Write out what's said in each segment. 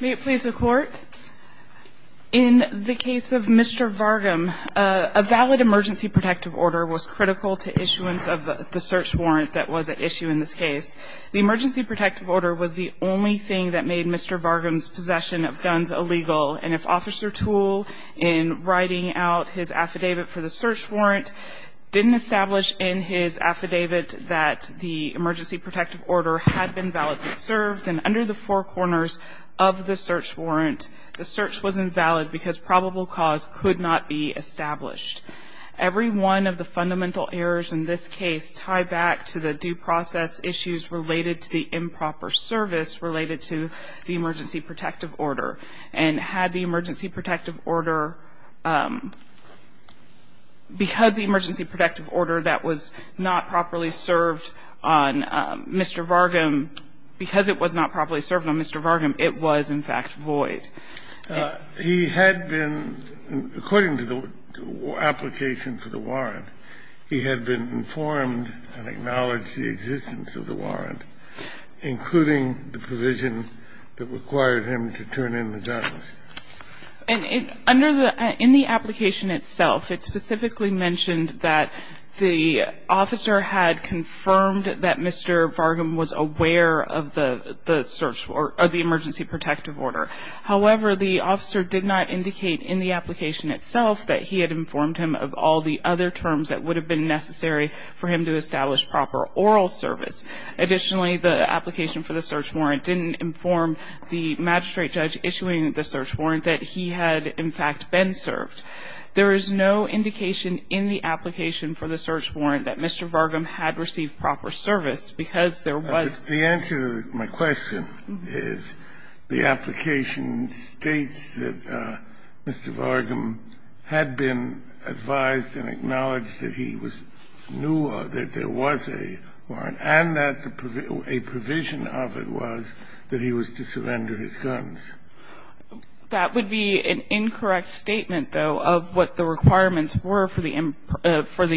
May it please the Court, in the case of Mr. Vargem, a valid emergency protective order was critical to issuance of the search warrant that was at issue in this case. The emergency protective order was the only thing that made Mr. Vargem's possession of guns illegal, and if Officer Toole, in writing out his affidavit for the search warrant, didn't establish in his affidavit that the emergency protective order had been validly served, then under the four corners of the search warrant, the search was invalid because probable cause could not be established. Every one of the fundamental errors in this case tie back to the due process issues related to the improper service related to the emergency protective order, because the emergency protective order that was not properly served on Mr. Vargem, because it was not properly served on Mr. Vargem, it was, in fact, void. He had been, according to the application for the warrant, he had been informed and acknowledged the existence of the warrant, including the provision that required him to turn in the guns. And in the application itself, it specifically mentioned that the officer had confirmed that Mr. Vargem was aware of the emergency protective order. However, the officer did not indicate in the application itself that he had informed him of all the other terms that would have been necessary for him to establish proper oral service. Additionally, the application for the search warrant didn't inform the magistrate judge issuing the search warrant that he had, in fact, been served. There is no indication in the application for the search warrant that Mr. Vargem had received proper service, because there was. The answer to my question is, the application states that Mr. Vargem had been advised and acknowledged that he was new or that there was a warrant, and that a provision of it was that he was to surrender his guns. That would be an incorrect statement, though, of what the requirements were for the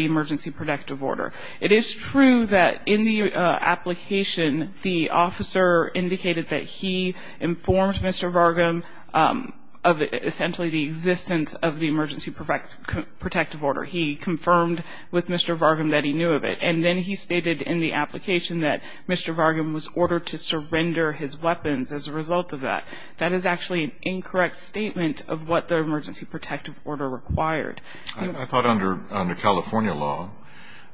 emergency protective order. It is true that in the application, the officer indicated that he informed Mr. Vargem of essentially the existence of the emergency protective order. He confirmed with Mr. Vargem that he knew of it. And then he stated in the application that Mr. Vargem was ordered to surrender his weapons as a result of that. That is actually an incorrect statement of what the emergency protective order required. I thought under California law,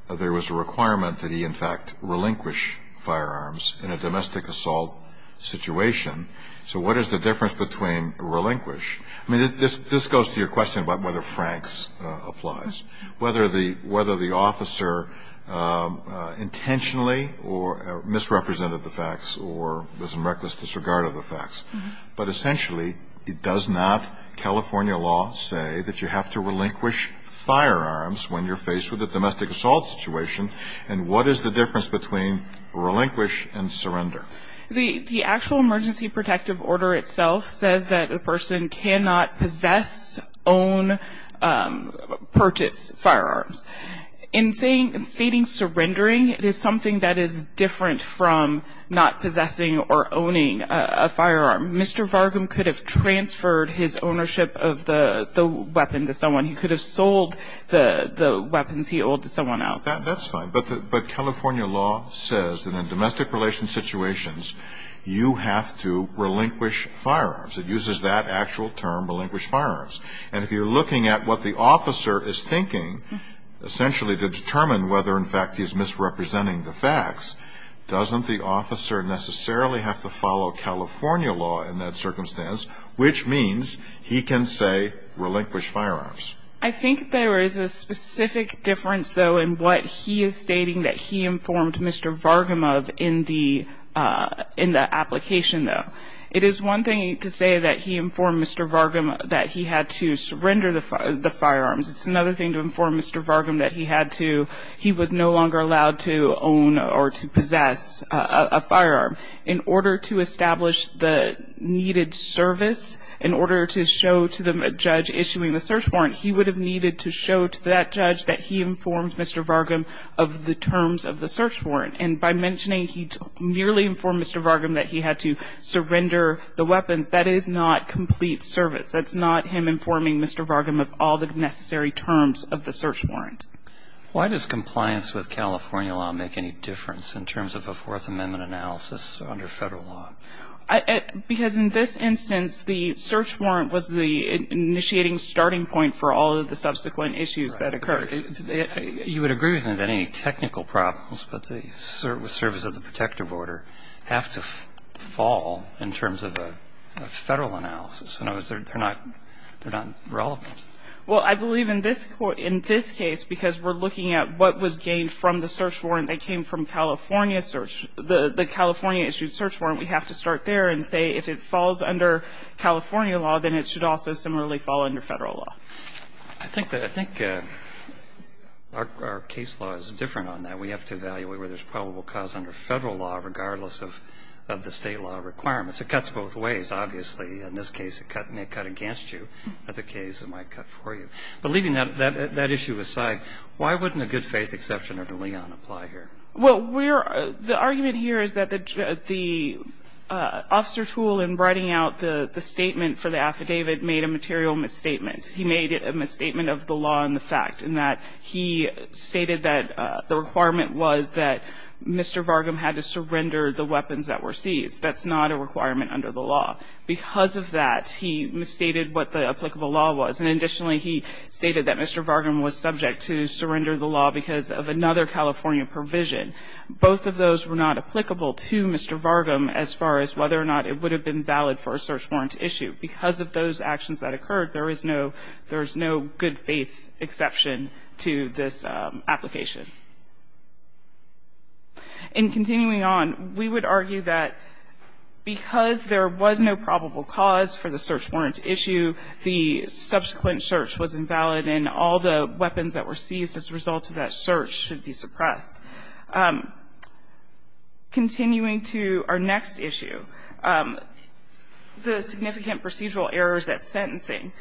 there was a requirement that he, in fact, relinquish firearms in a domestic assault situation. So what is the difference between relinquish? I mean, this goes to your question about whether Frank's applies. Whether the officer intentionally or misrepresented the facts or was in reckless disregard of the facts. But essentially, it does not, California law, say that you have to relinquish firearms when you're faced with a domestic assault situation. And what is the difference between relinquish and surrender? The actual emergency protective order itself says that a person cannot possess own purchase firearms. In stating surrendering, it is something that is different from not possessing or owning a firearm. Mr. Vargem could have transferred his ownership of the weapon to someone. He could have sold the weapons he owed to someone else. That's fine, but California law says that in domestic relations situations, you have to relinquish firearms. It uses that actual term, relinquish firearms. And if you're looking at what the officer is thinking, essentially to determine whether, in fact, he's misrepresenting the facts, doesn't the officer necessarily have to follow California law in that circumstance? Which means he can say relinquish firearms. I think there is a specific difference, though, in what he is stating that he informed Mr. Vargem of in the application, though. It is one thing to say that he informed Mr. Vargem that he had to surrender the firearms. It's another thing to inform Mr. Vargem that he was no longer allowed to own or to possess a firearm. In order to establish the needed service, in order to show to the judge issuing the search warrant, he would have needed to show to that judge that he informed Mr. Vargem of the terms of the search warrant. And by mentioning he merely informed Mr. Vargem that he had to surrender the weapons, that is not complete service. That's not him informing Mr. Vargem of all the necessary terms of the search warrant. Why does compliance with California law make any difference in terms of a Fourth Amendment analysis under federal law? Because in this instance, the search warrant was the initiating starting point for all of the subsequent issues that occurred. I'm sorry, you would agree with me that any technical problems, but the service of the protective order have to fall in terms of a federal analysis. In other words, they're not relevant. Well, I believe in this case, because we're looking at what was gained from the search warrant that came from California search, the California-issued search warrant, we have to start there and say if it falls under California law, then it should also similarly fall under federal law. I think that our case law is different on that. We have to evaluate whether there's probable cause under federal law, regardless of the State law requirements. It cuts both ways. Obviously, in this case, it may cut against you. In other cases, it might cut for you. But leaving that issue aside, why wouldn't a good-faith exception under Leon apply here? Well, we're the argument here is that the officer tool in writing out the statement for the affidavit made a material misstatement. He made a misstatement of the law and the fact in that he stated that the requirement was that Mr. Varghum had to surrender the weapons that were seized. That's not a requirement under the law. Because of that, he misstated what the applicable law was. And additionally, he stated that Mr. Varghum was subject to surrender the law because of another California provision. Both of those were not applicable to Mr. Varghum as far as whether or not it would have been valid for a search warrant issue. Because of those actions that occurred, there is no good-faith exception to this application. In continuing on, we would argue that because there was no probable cause for the search warrant issue, the subsequent search was invalid and all the weapons that were seized as a result of that search should be suppressed. Continuing to our next issue, the significant procedural errors at sentencing.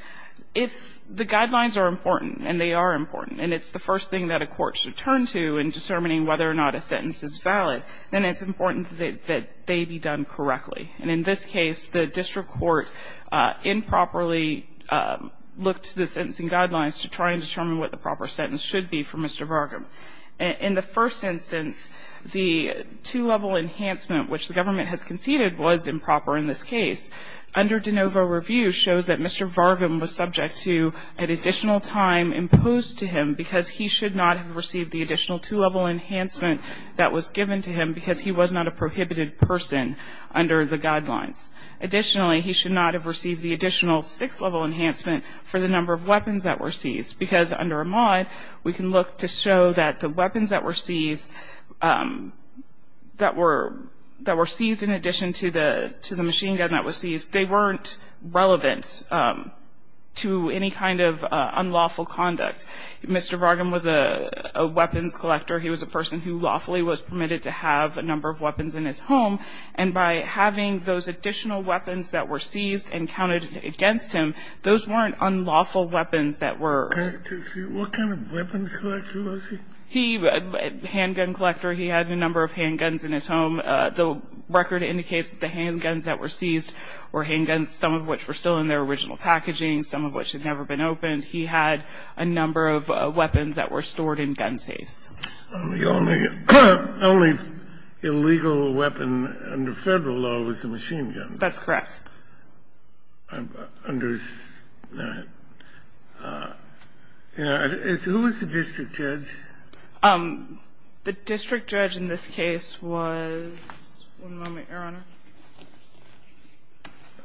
If the guidelines are important, and they are important, and it's the first thing that a court should turn to in determining whether or not a sentence is valid, then it's important that they be done correctly. And in this case, the district court improperly looked to the sentencing guidelines to try and determine what the proper sentence should be for Mr. Varghum. In the first instance, the two-level enhancement, which the government has conceded was improper in this case. Under de novo review shows that Mr. Varghum was subject to an additional time imposed to him because he should not have received the additional two-level enhancement that was given to him because he was not a prohibited person under the guidelines. Additionally, he should not have received the additional six-level enhancement for the number of weapons that were seized. Because under a mod, we can look to show that the weapons that were seized in addition to the machine gun that was seized, they weren't relevant to any kind of unlawful conduct. Mr. Varghum was a weapons collector. He was a person who lawfully was permitted to have a number of weapons in his home. And by having those additional weapons that were seized and counted against him, those weren't unlawful weapons that were. What kind of weapons collector was he? He was a handgun collector. He had a number of handguns in his home. The record indicates that the handguns that were seized were handguns, some of which were still in their original packaging, some of which had never been opened. He had a number of weapons that were stored in gun safes. The only illegal weapon under Federal law was the machine gun. That's correct. I'm understand. Who was the district judge? The district judge in this case was, one moment, Your Honor.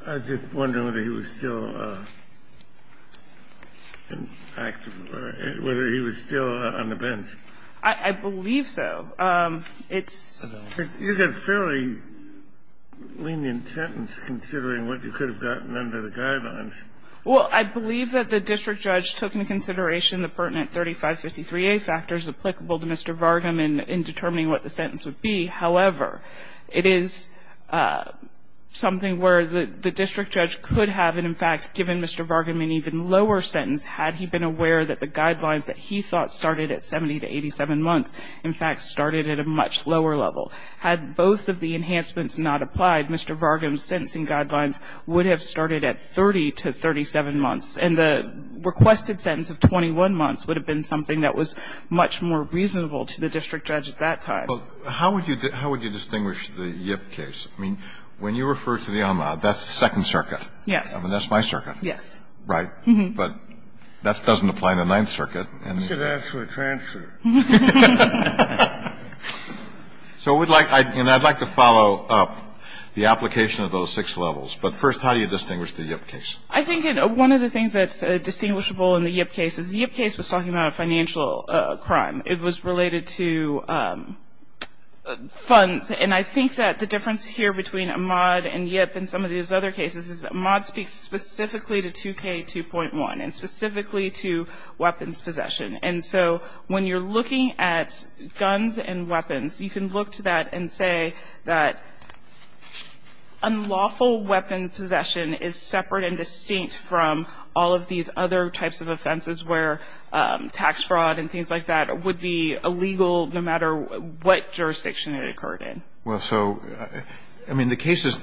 I was just wondering whether he was still active or whether he was still on the bench. I believe so. You've got a fairly lenient sentence considering what you could have gotten under the guidelines. Well, I believe that the district judge took into consideration the pertinent 3553A factors applicable to Mr. Varghum in determining what the sentence would be. However, it is something where the district judge could have, and in fact, given Mr. Varghum an even lower sentence had he been aware that the guidelines that he thought would apply to Mr. Varghum would have started at 70 to 87 months, in fact, started at a much lower level. Had both of the enhancements not applied, Mr. Varghum's sentencing guidelines would have started at 30 to 37 months, and the requested sentence of 21 months would have been something that was much more reasonable to the district judge at that time. Well, how would you distinguish the Yip case? I mean, when you refer to the Enlad, that's the Second Circuit. Yes. I mean, that's my circuit. Yes. Right. But that doesn't apply in the Ninth Circuit. You should ask for a transfer. So we'd like to follow up the application of those six levels. But first, how do you distinguish the Yip case? I think one of the things that's distinguishable in the Yip case is the Yip case was talking about a financial crime. It was related to funds. And I think that the difference here between Ahmaud and Yip and some of these other cases is Ahmaud speaks specifically to 2K2.1 and specifically to weapons possession. And so when you're looking at guns and weapons, you can look to that and say that unlawful weapon possession is separate and distinct from all of these other types of offenses where tax fraud and things like that would be illegal no matter what jurisdiction it occurred in. Well, so, I mean, the cases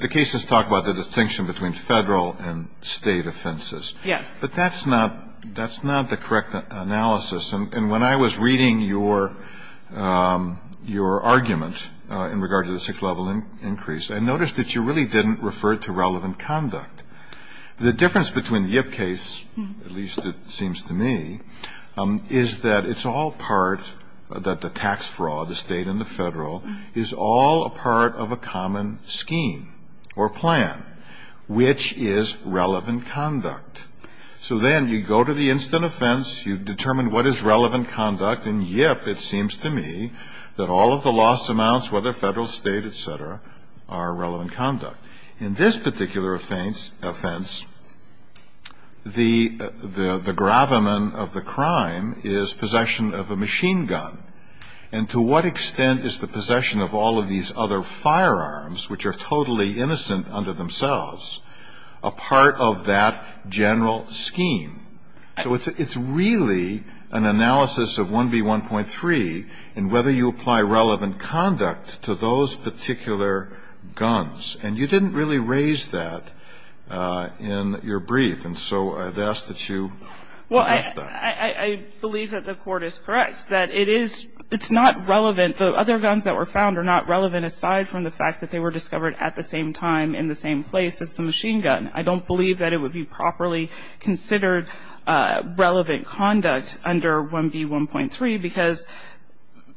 talk about the distinction between Federal and State offenses. Yes. But that's not the correct analysis. And when I was reading your argument in regard to the sixth level increase, I noticed that you really didn't refer to relevant conduct. The difference between the Yip case, at least it seems to me, is that it's all part of a common scheme or plan, which is relevant conduct. So then you go to the instant offense, you determine what is relevant conduct, and Yip, it seems to me, that all of the loss amounts, whether Federal, State, et cetera, are relevant conduct. In this particular offense, the gravamen of the crime is possession of a machine gun. And to what extent is the possession of all of these other firearms, which are totally innocent unto themselves, a part of that general scheme? So it's really an analysis of 1B1.3 in whether you apply relevant conduct to those particular guns. And you didn't really raise that in your brief, and so I'd ask that you address that. I believe that the Court is correct, that it is not relevant. The other guns that were found are not relevant, aside from the fact that they were discovered at the same time in the same place as the machine gun. I don't believe that it would be properly considered relevant conduct under 1B1.3, because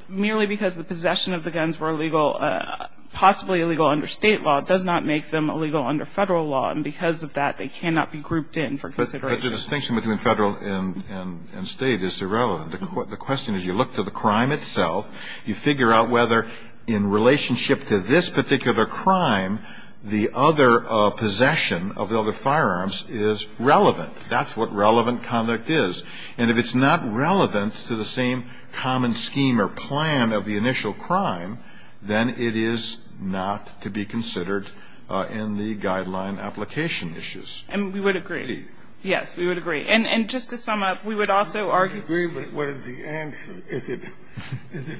merely because the possession of the guns were illegal, possibly illegal under State law, does not make them illegal under Federal law. And because of that, they cannot be grouped in for consideration. But the distinction between Federal and State is irrelevant. The question is, you look to the crime itself, you figure out whether in relationship to this particular crime, the other possession of the other firearms is relevant. That's what relevant conduct is. And if it's not relevant to the same common scheme or plan of the initial crime, then it is not to be considered in the guideline application issues. And we would agree. Indeed. Yes, we would agree. And just to sum up, we would also argue that what is the answer? Is it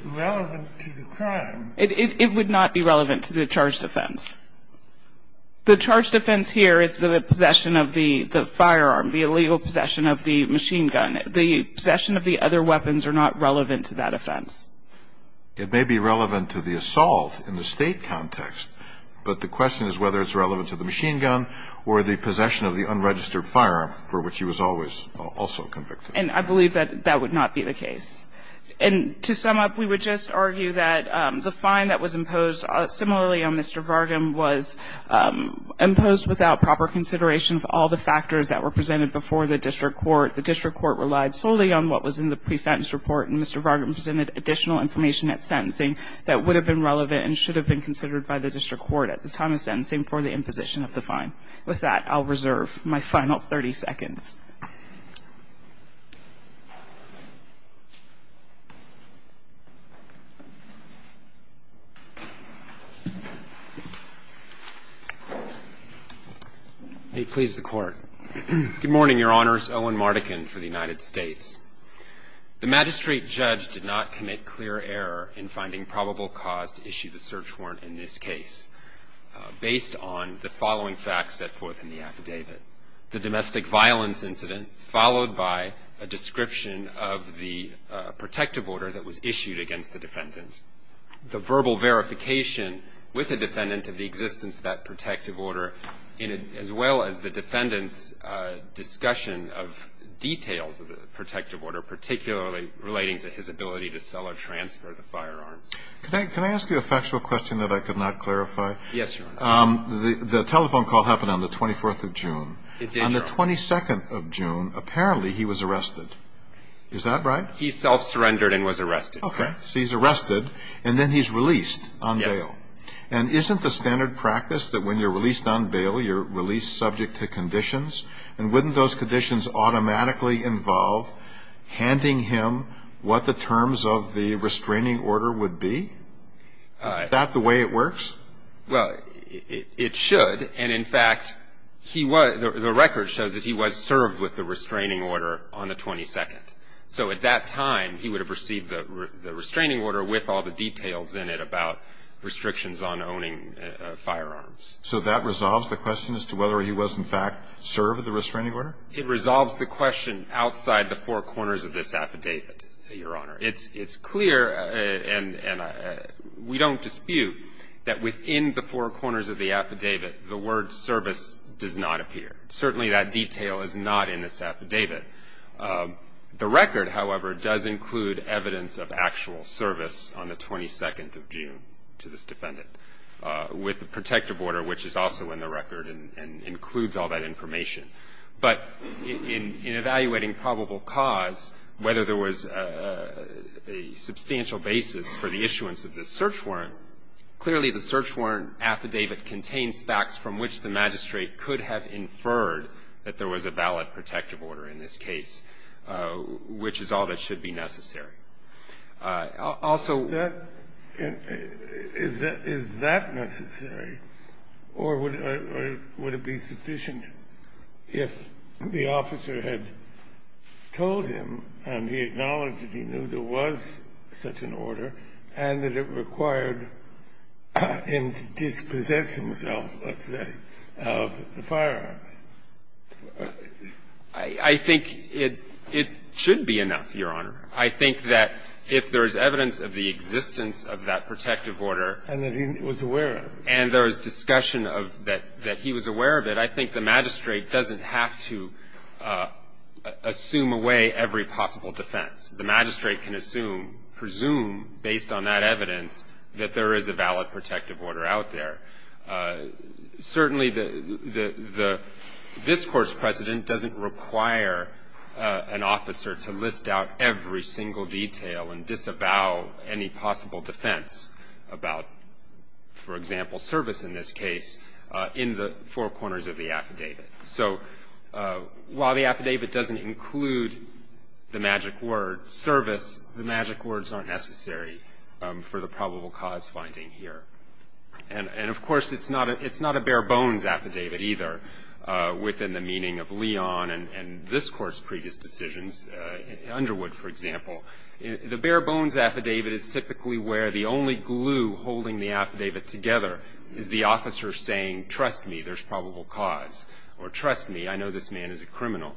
relevant to the crime? It would not be relevant to the charged offense. The charged offense here is the possession of the firearm, the illegal possession of the machine gun. The possession of the other weapons are not relevant to that offense. It may be relevant to the assault in the State context, but the question is whether it's relevant to the machine gun or the possession of the unregistered firearm for which he was always also convicted. And I believe that that would not be the case. And to sum up, we would just argue that the fine that was imposed similarly on Mr. Vargam was imposed without proper consideration of all the factors that were presented before the district court. The district court relied solely on what was in the pre-sentence report, and Mr. Vargam presented additional information at sentencing that would have been relevant and should have been considered by the district court at the time of sentencing for the imposition of the fine. With that, I'll reserve my final 30 seconds. May it please the Court. Good morning, Your Honors. Owen Mardekin for the United States. The magistrate judge did not commit clear error in finding probable cause to issue the search warrant in this case based on the following facts set forth in the affidavit. The domestic violence incident followed by a description of the protective order that was issued against the defendant, the verbal verification with the defendant of the existence of that protective order, as well as the defendant's discussion of details of the protective order, particularly relating to his ability to sell or transfer the firearms. Can I ask you a factual question that I could not clarify? Yes, Your Honor. The telephone call happened on the 24th of June. It did, Your Honor. On the 22nd of June, apparently he was arrested. Is that right? He self-surrendered and was arrested. Okay. So he's arrested, and then he's released on bail. Yes. And isn't the standard practice that when you're released on bail, you're released subject to conditions? And wouldn't those conditions automatically involve handing him what the terms of the restraining order would be? Is that the way it works? Well, it should. And, in fact, he was the record shows that he was served with the restraining order on the 22nd. So at that time, he would have received the restraining order with all the details in it about restrictions on owning firearms. So that resolves the question as to whether he was, in fact, served with the restraining order? It resolves the question outside the four corners of this affidavit, Your Honor. It's clear, and we don't dispute, that within the four corners of the affidavit, the word service does not appear. Certainly that detail is not in this affidavit. The record, however, does include evidence of actual service on the 22nd of June to this defendant with a protective order, which is also in the record and includes all that information. But in evaluating probable cause, whether there was a substantial basis for the issuance of this search warrant, clearly the search warrant affidavit contains facts from which the magistrate could have inferred that there was a valid protective order in this case, which is all that should be necessary. Also ---- Is that necessary, or would it be sufficient if the officer had told him, and he acknowledged that he knew there was such an order, and that it required him to dispossess himself, let's say, of the firearms? I think it should be enough, Your Honor. I think that if there is evidence of the existence of that protective order ---- And that he was aware of it. And there is discussion of that he was aware of it, I think the magistrate doesn't have to assume away every possible defense. The magistrate can assume, presume, based on that evidence, that there is a valid protective order out there. Certainly the ---- this Court's precedent doesn't require an officer to list out every single detail and disavow any possible defense about, for example, service in this case in the four corners of the affidavit. So while the affidavit doesn't include the magic word service, the magic words aren't necessary for the probable cause finding here. And, of course, it's not a bare-bones affidavit either within the meaning of Leon and this Court's previous decisions, Underwood, for example. The bare-bones affidavit is typically where the only glue holding the affidavit together is the officer saying, trust me, there's probable cause, or trust me, I know this man is a criminal.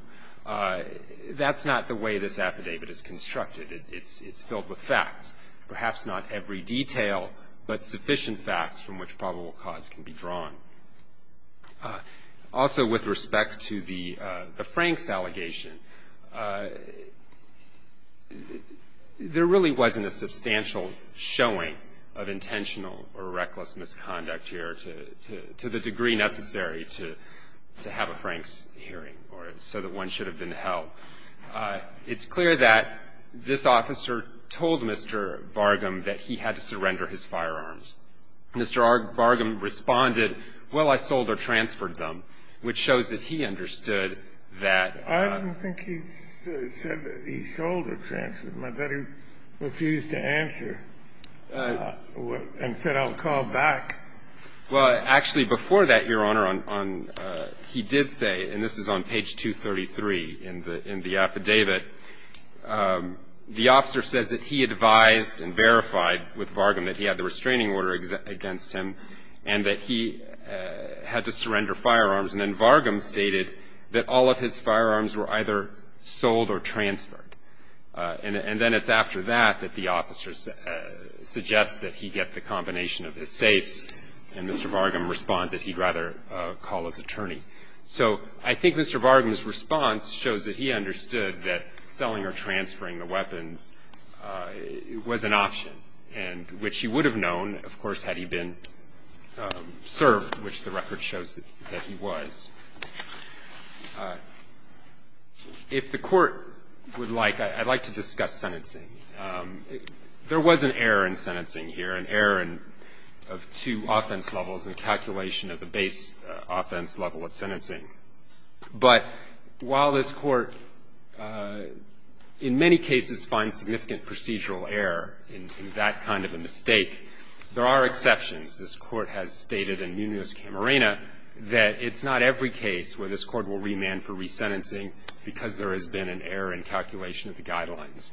That's not the way this affidavit is constructed. It's filled with facts, perhaps not every detail, but sufficient facts from which probable cause can be drawn. Also with respect to the Franks allegation, there really wasn't a substantial showing of intentional or reckless misconduct here to the degree necessary to have a Franks hearing or so that one should have been held. It's clear that this officer told Mr. Vargam that he had to surrender his firearms. Mr. Vargam responded, well, I sold or transferred them, which shows that he understood that. I don't think he said that he sold or transferred them. I thought he refused to answer and said, I'll call back. Well, actually, before that, Your Honor, he did say, and this is on page 233 in the affidavit, the officer says that he advised and verified with Vargam that he had the restraining order against him and that he had to surrender firearms. And then Vargam stated that all of his firearms were either sold or transferred. And then it's after that that the officer suggests that he get the combination of his safes, and Mr. Vargam responds that he'd rather call his attorney. So I think Mr. Vargam's response shows that he understood that selling or transferring the weapons was an option, which he would have known, of course, had he been served, which the record shows that he was. If the Court would like, I'd like to discuss sentencing. There was an error in sentencing here, an error of two offense levels and a calculation of the base offense level of sentencing. But while this Court, in many cases, finds significant procedural error in that kind of a mistake, there are exceptions. This Court has stated in Muniz-Camarena that it's not every case where this Court will remand for resentencing because there has been an error in calculation of the guidelines.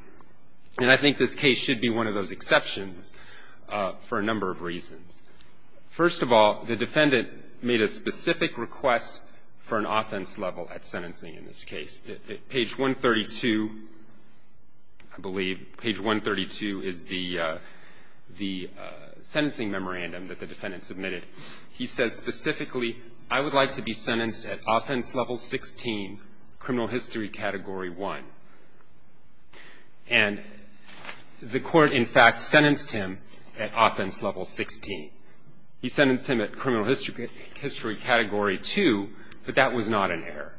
And I think this case should be one of those exceptions for a number of reasons. First of all, the defendant made a specific request for an offense level at sentencing in this case. Page 132, I believe, page 132 is the sentencing memorandum that the defendant submitted. He says specifically, I would like to be sentenced at offense level 16, criminal history category 1. And the Court, in fact, sentenced him at offense level 16. He sentenced him at criminal history category 2, but that was not an error.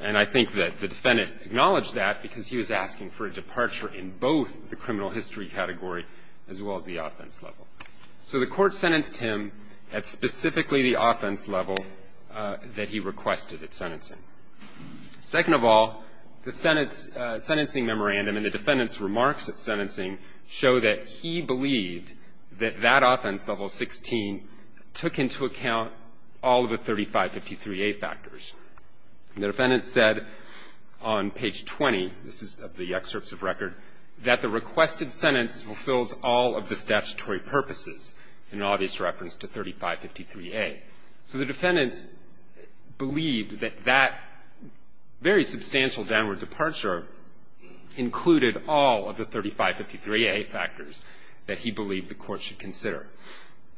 And I think that the defendant acknowledged that because he was asking for a departure in both the criminal history category as well as the offense level. So the Court sentenced him at specifically the offense level that he requested at sentencing. Second of all, the sentencing memorandum and the defendant's remarks at sentencing show that he believed that that offense level 16 took into account all of the 3553A factors. And the defendant said on page 20, this is of the excerpts of record, that the requested sentence fulfills all of the statutory purposes in obvious reference to 3553A. So the defendant believed that that very substantial downward departure included all of the 3553A factors that he believed the Court should consider.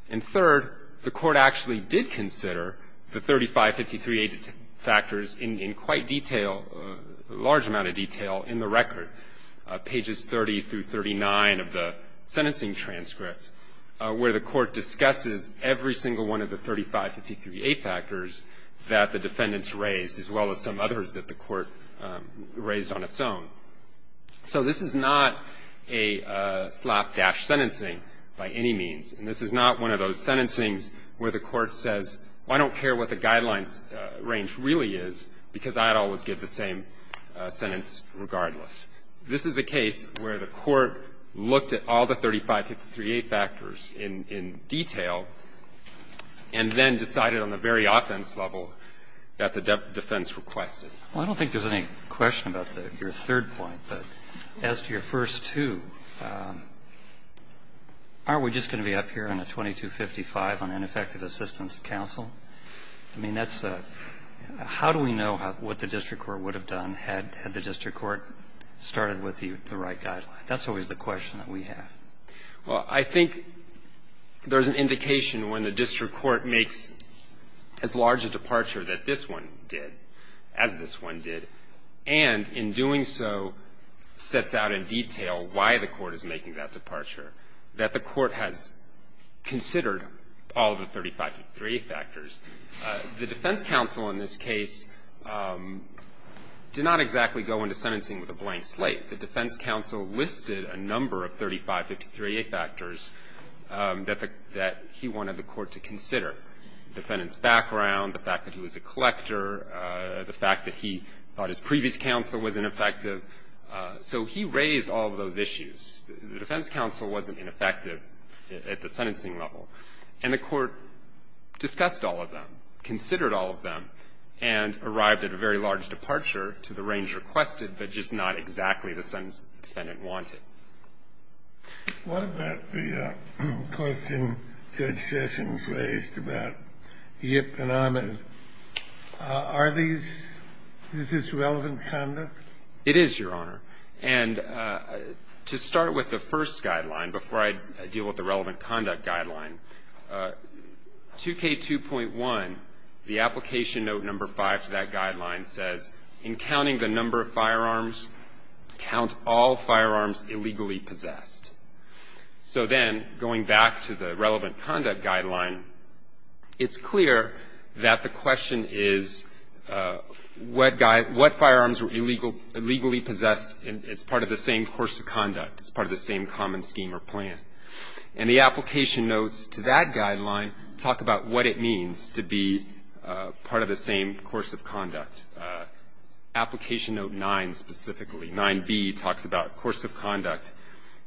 And third, the Court actually did consider the 3553A factors in quite detail, a large amount of detail, in the record, pages 30 through 39 of the sentencing transcript, where the Court discusses every single one of the 3553A factors that the defendant raised, as well as some others that the Court raised on its own. So this is not a slapdash sentencing by any means. And this is not one of those sentencings where the Court says, well, I don't care what the guidelines range really is, because I'd always give the same sentence regardless. This is a case where the Court looked at all the 3553A factors in detail and then decided on the very offense level that the defense requested. Well, I don't think there's any question about your third point, but as to your first two, aren't we just going to be up here on a 2255 on ineffective assistance of counsel? I mean, that's a — how do we know what the district court would have done had the district court started with the right guideline? That's always the question that we have. Well, I think there's an indication when the district court makes as large a departure that this one did, as this one did, and in doing so, sets out in detail why the court is making that departure, that the court has considered all of the 3553A factors. The defense counsel in this case did not exactly go into sentencing with a blank slate. The defense counsel listed a number of 3553A factors that he wanted the court to consider, the defendant's background, the fact that he was a collector, the fact that he thought his previous counsel was ineffective. So he raised all of those issues. The defense counsel wasn't ineffective at the sentencing level. And the court discussed all of them, considered all of them, and arrived at a very large departure to the range requested, but just not exactly the sentence the defendant wanted. What about the question Judge Sessions raised about Yip and Amos? Are these — is this relevant conduct? It is, Your Honor. And to start with the first guideline, before I deal with the relevant conduct guideline, 2K2.1, the application note number 5 to that guideline says, in counting the number of firearms, count all firearms illegally possessed. So then, going back to the relevant conduct guideline, it's clear that the question is, what firearms were illegally possessed? It's part of the same course of conduct. It's part of the same common scheme or plan. And the application notes to that guideline talk about what it means to be part of the same course of conduct. Application note 9 specifically, 9B, talks about course of conduct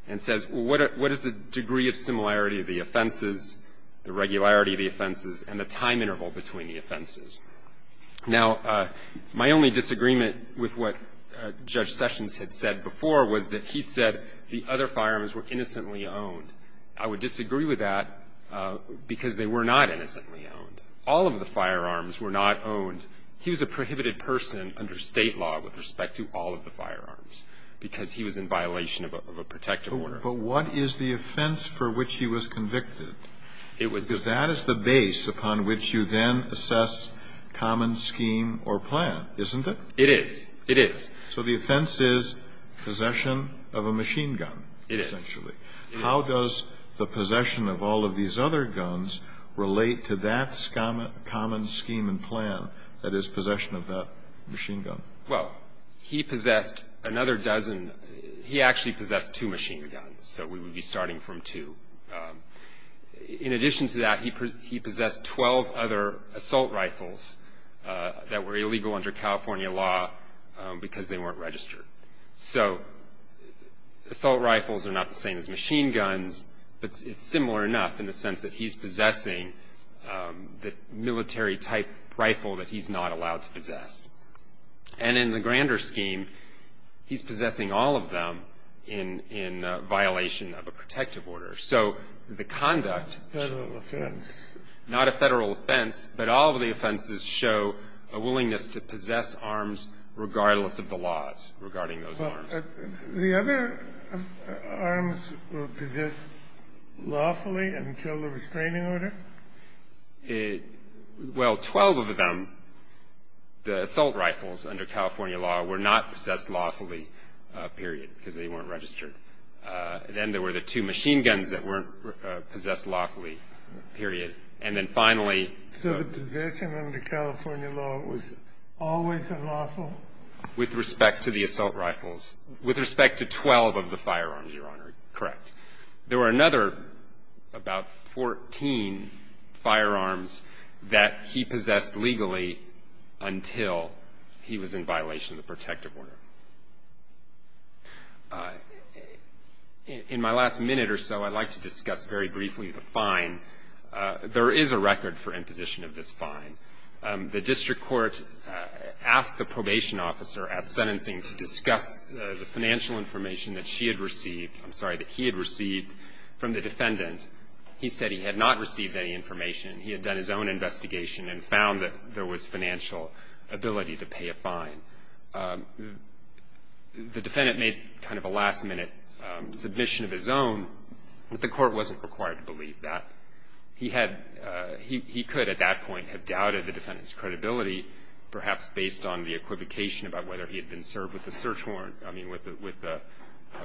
and says, what is the degree of similarity of the offenses, the regularity of the offenses, and the time interval between the offenses? Now, my only disagreement with what Judge Sessions had said before was that he said the other firearms were innocently owned. I would disagree with that because they were not innocently owned. All of the firearms were not owned. He was a prohibited person under State law with respect to all of the firearms because he was in violation of a protective order. But what is the offense for which he was convicted? Because that is the base upon which you then assess common scheme or plan, isn't it? It is. It is. So the offense is possession of a machine gun, essentially. It is. How does the possession of all of these other guns relate to that common scheme and plan that is possession of that machine gun? Well, he possessed another dozen. He actually possessed two machine guns, so we would be starting from two. In addition to that, he possessed 12 other assault rifles that were illegal under California law because they weren't registered. So assault rifles are not the same as machine guns, but it's similar enough in the sense that he's possessing the military-type rifle that he's not allowed to possess. And in the grander scheme, he's possessing all of them in violation of a protective order. So the conduct... Federal offense. Not a federal offense, but all of the offenses show a willingness to possess arms regardless of the laws regarding those arms. The other arms were possessed lawfully until the restraining order? Well, 12 of them, the assault rifles, under California law, were not possessed lawfully, period, because they weren't registered. Then there were the two machine guns that weren't possessed lawfully, period. And then finally... So the possession under California law was always unlawful? With respect to the assault rifles. With respect to 12 of the firearms, Your Honor, correct. There were another about 14 firearms that he possessed legally until he was in violation of the protective order. In my last minute or so, I'd like to discuss very briefly the fine. There is a record for imposition of this fine. The district court asked the probation officer at sentencing to discuss the financial information that she had received, I'm sorry, that he had received from the defendant. He said he had not received any information. He had done his own investigation and found that there was financial ability to pay a fine. The defendant made kind of a last minute submission of his own, but the court wasn't required to believe that. He had, he could at that point have doubted the defendant's credibility, perhaps based on the equivocation about whether he had been served with a search warrant, I mean, with a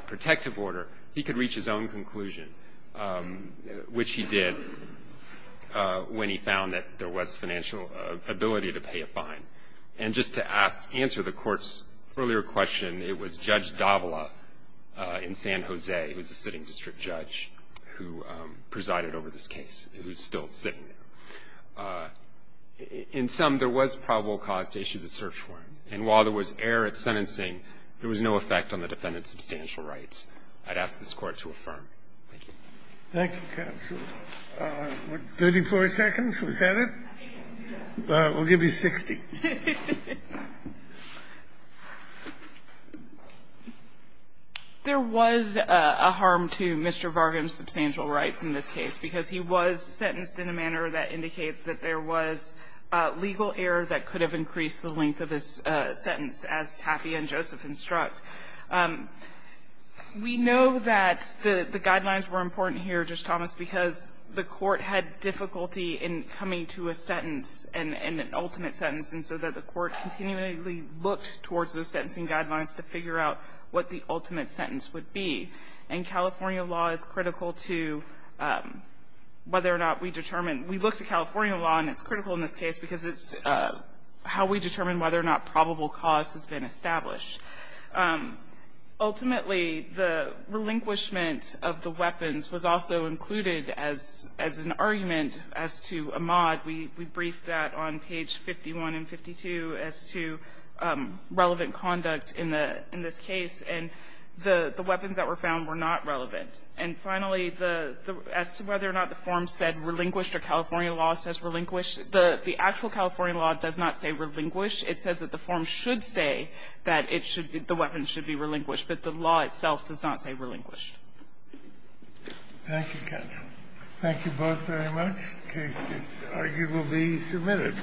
protective order. He could reach his own conclusion, which he did when he found that there was financial ability to pay a fine. And just to ask, answer the court's earlier question, it was Judge Davila in San Jose who was a sitting district judge who presided over this case, who's still sitting there. In sum, there was probable cause to issue the search warrant. And while there was error at sentencing, there was no effect on the defendant's substantial rights. I'd ask this Court to affirm. Thank you. Thank you, counsel. Thirty-four seconds, was that it? We'll give you 60. There was a harm to Mr. Varghese's substantial rights in this case, because he was sentenced in a manner that indicates that there was legal error that could have increased the length of his sentence, as Tapia and Joseph instruct. We know that the guidelines were important here, Justice Thomas, because the court had difficulty in coming to a sentence, an ultimate sentence, and so that the court continually looked towards those sentencing guidelines to figure out what the ultimate sentence would be. And California law is critical to whether or not we determine. We looked at California law, and it's critical in this case because it's how we determine whether or not probable cause has been established. Ultimately, the relinquishment of the weapons was also included as an argument as to Ahmaud. We briefed that on page 51 and 52 as to relevant conduct in this case, and the weapons that were found were not relevant. And finally, as to whether or not the form said relinquished or California law says relinquished, the actual California law does not say relinquished. It says that the form should say that the weapons should be relinquished, but the law itself does not say relinquished. Thank you, counsel. Thank you both very much. The case is arguably submitted.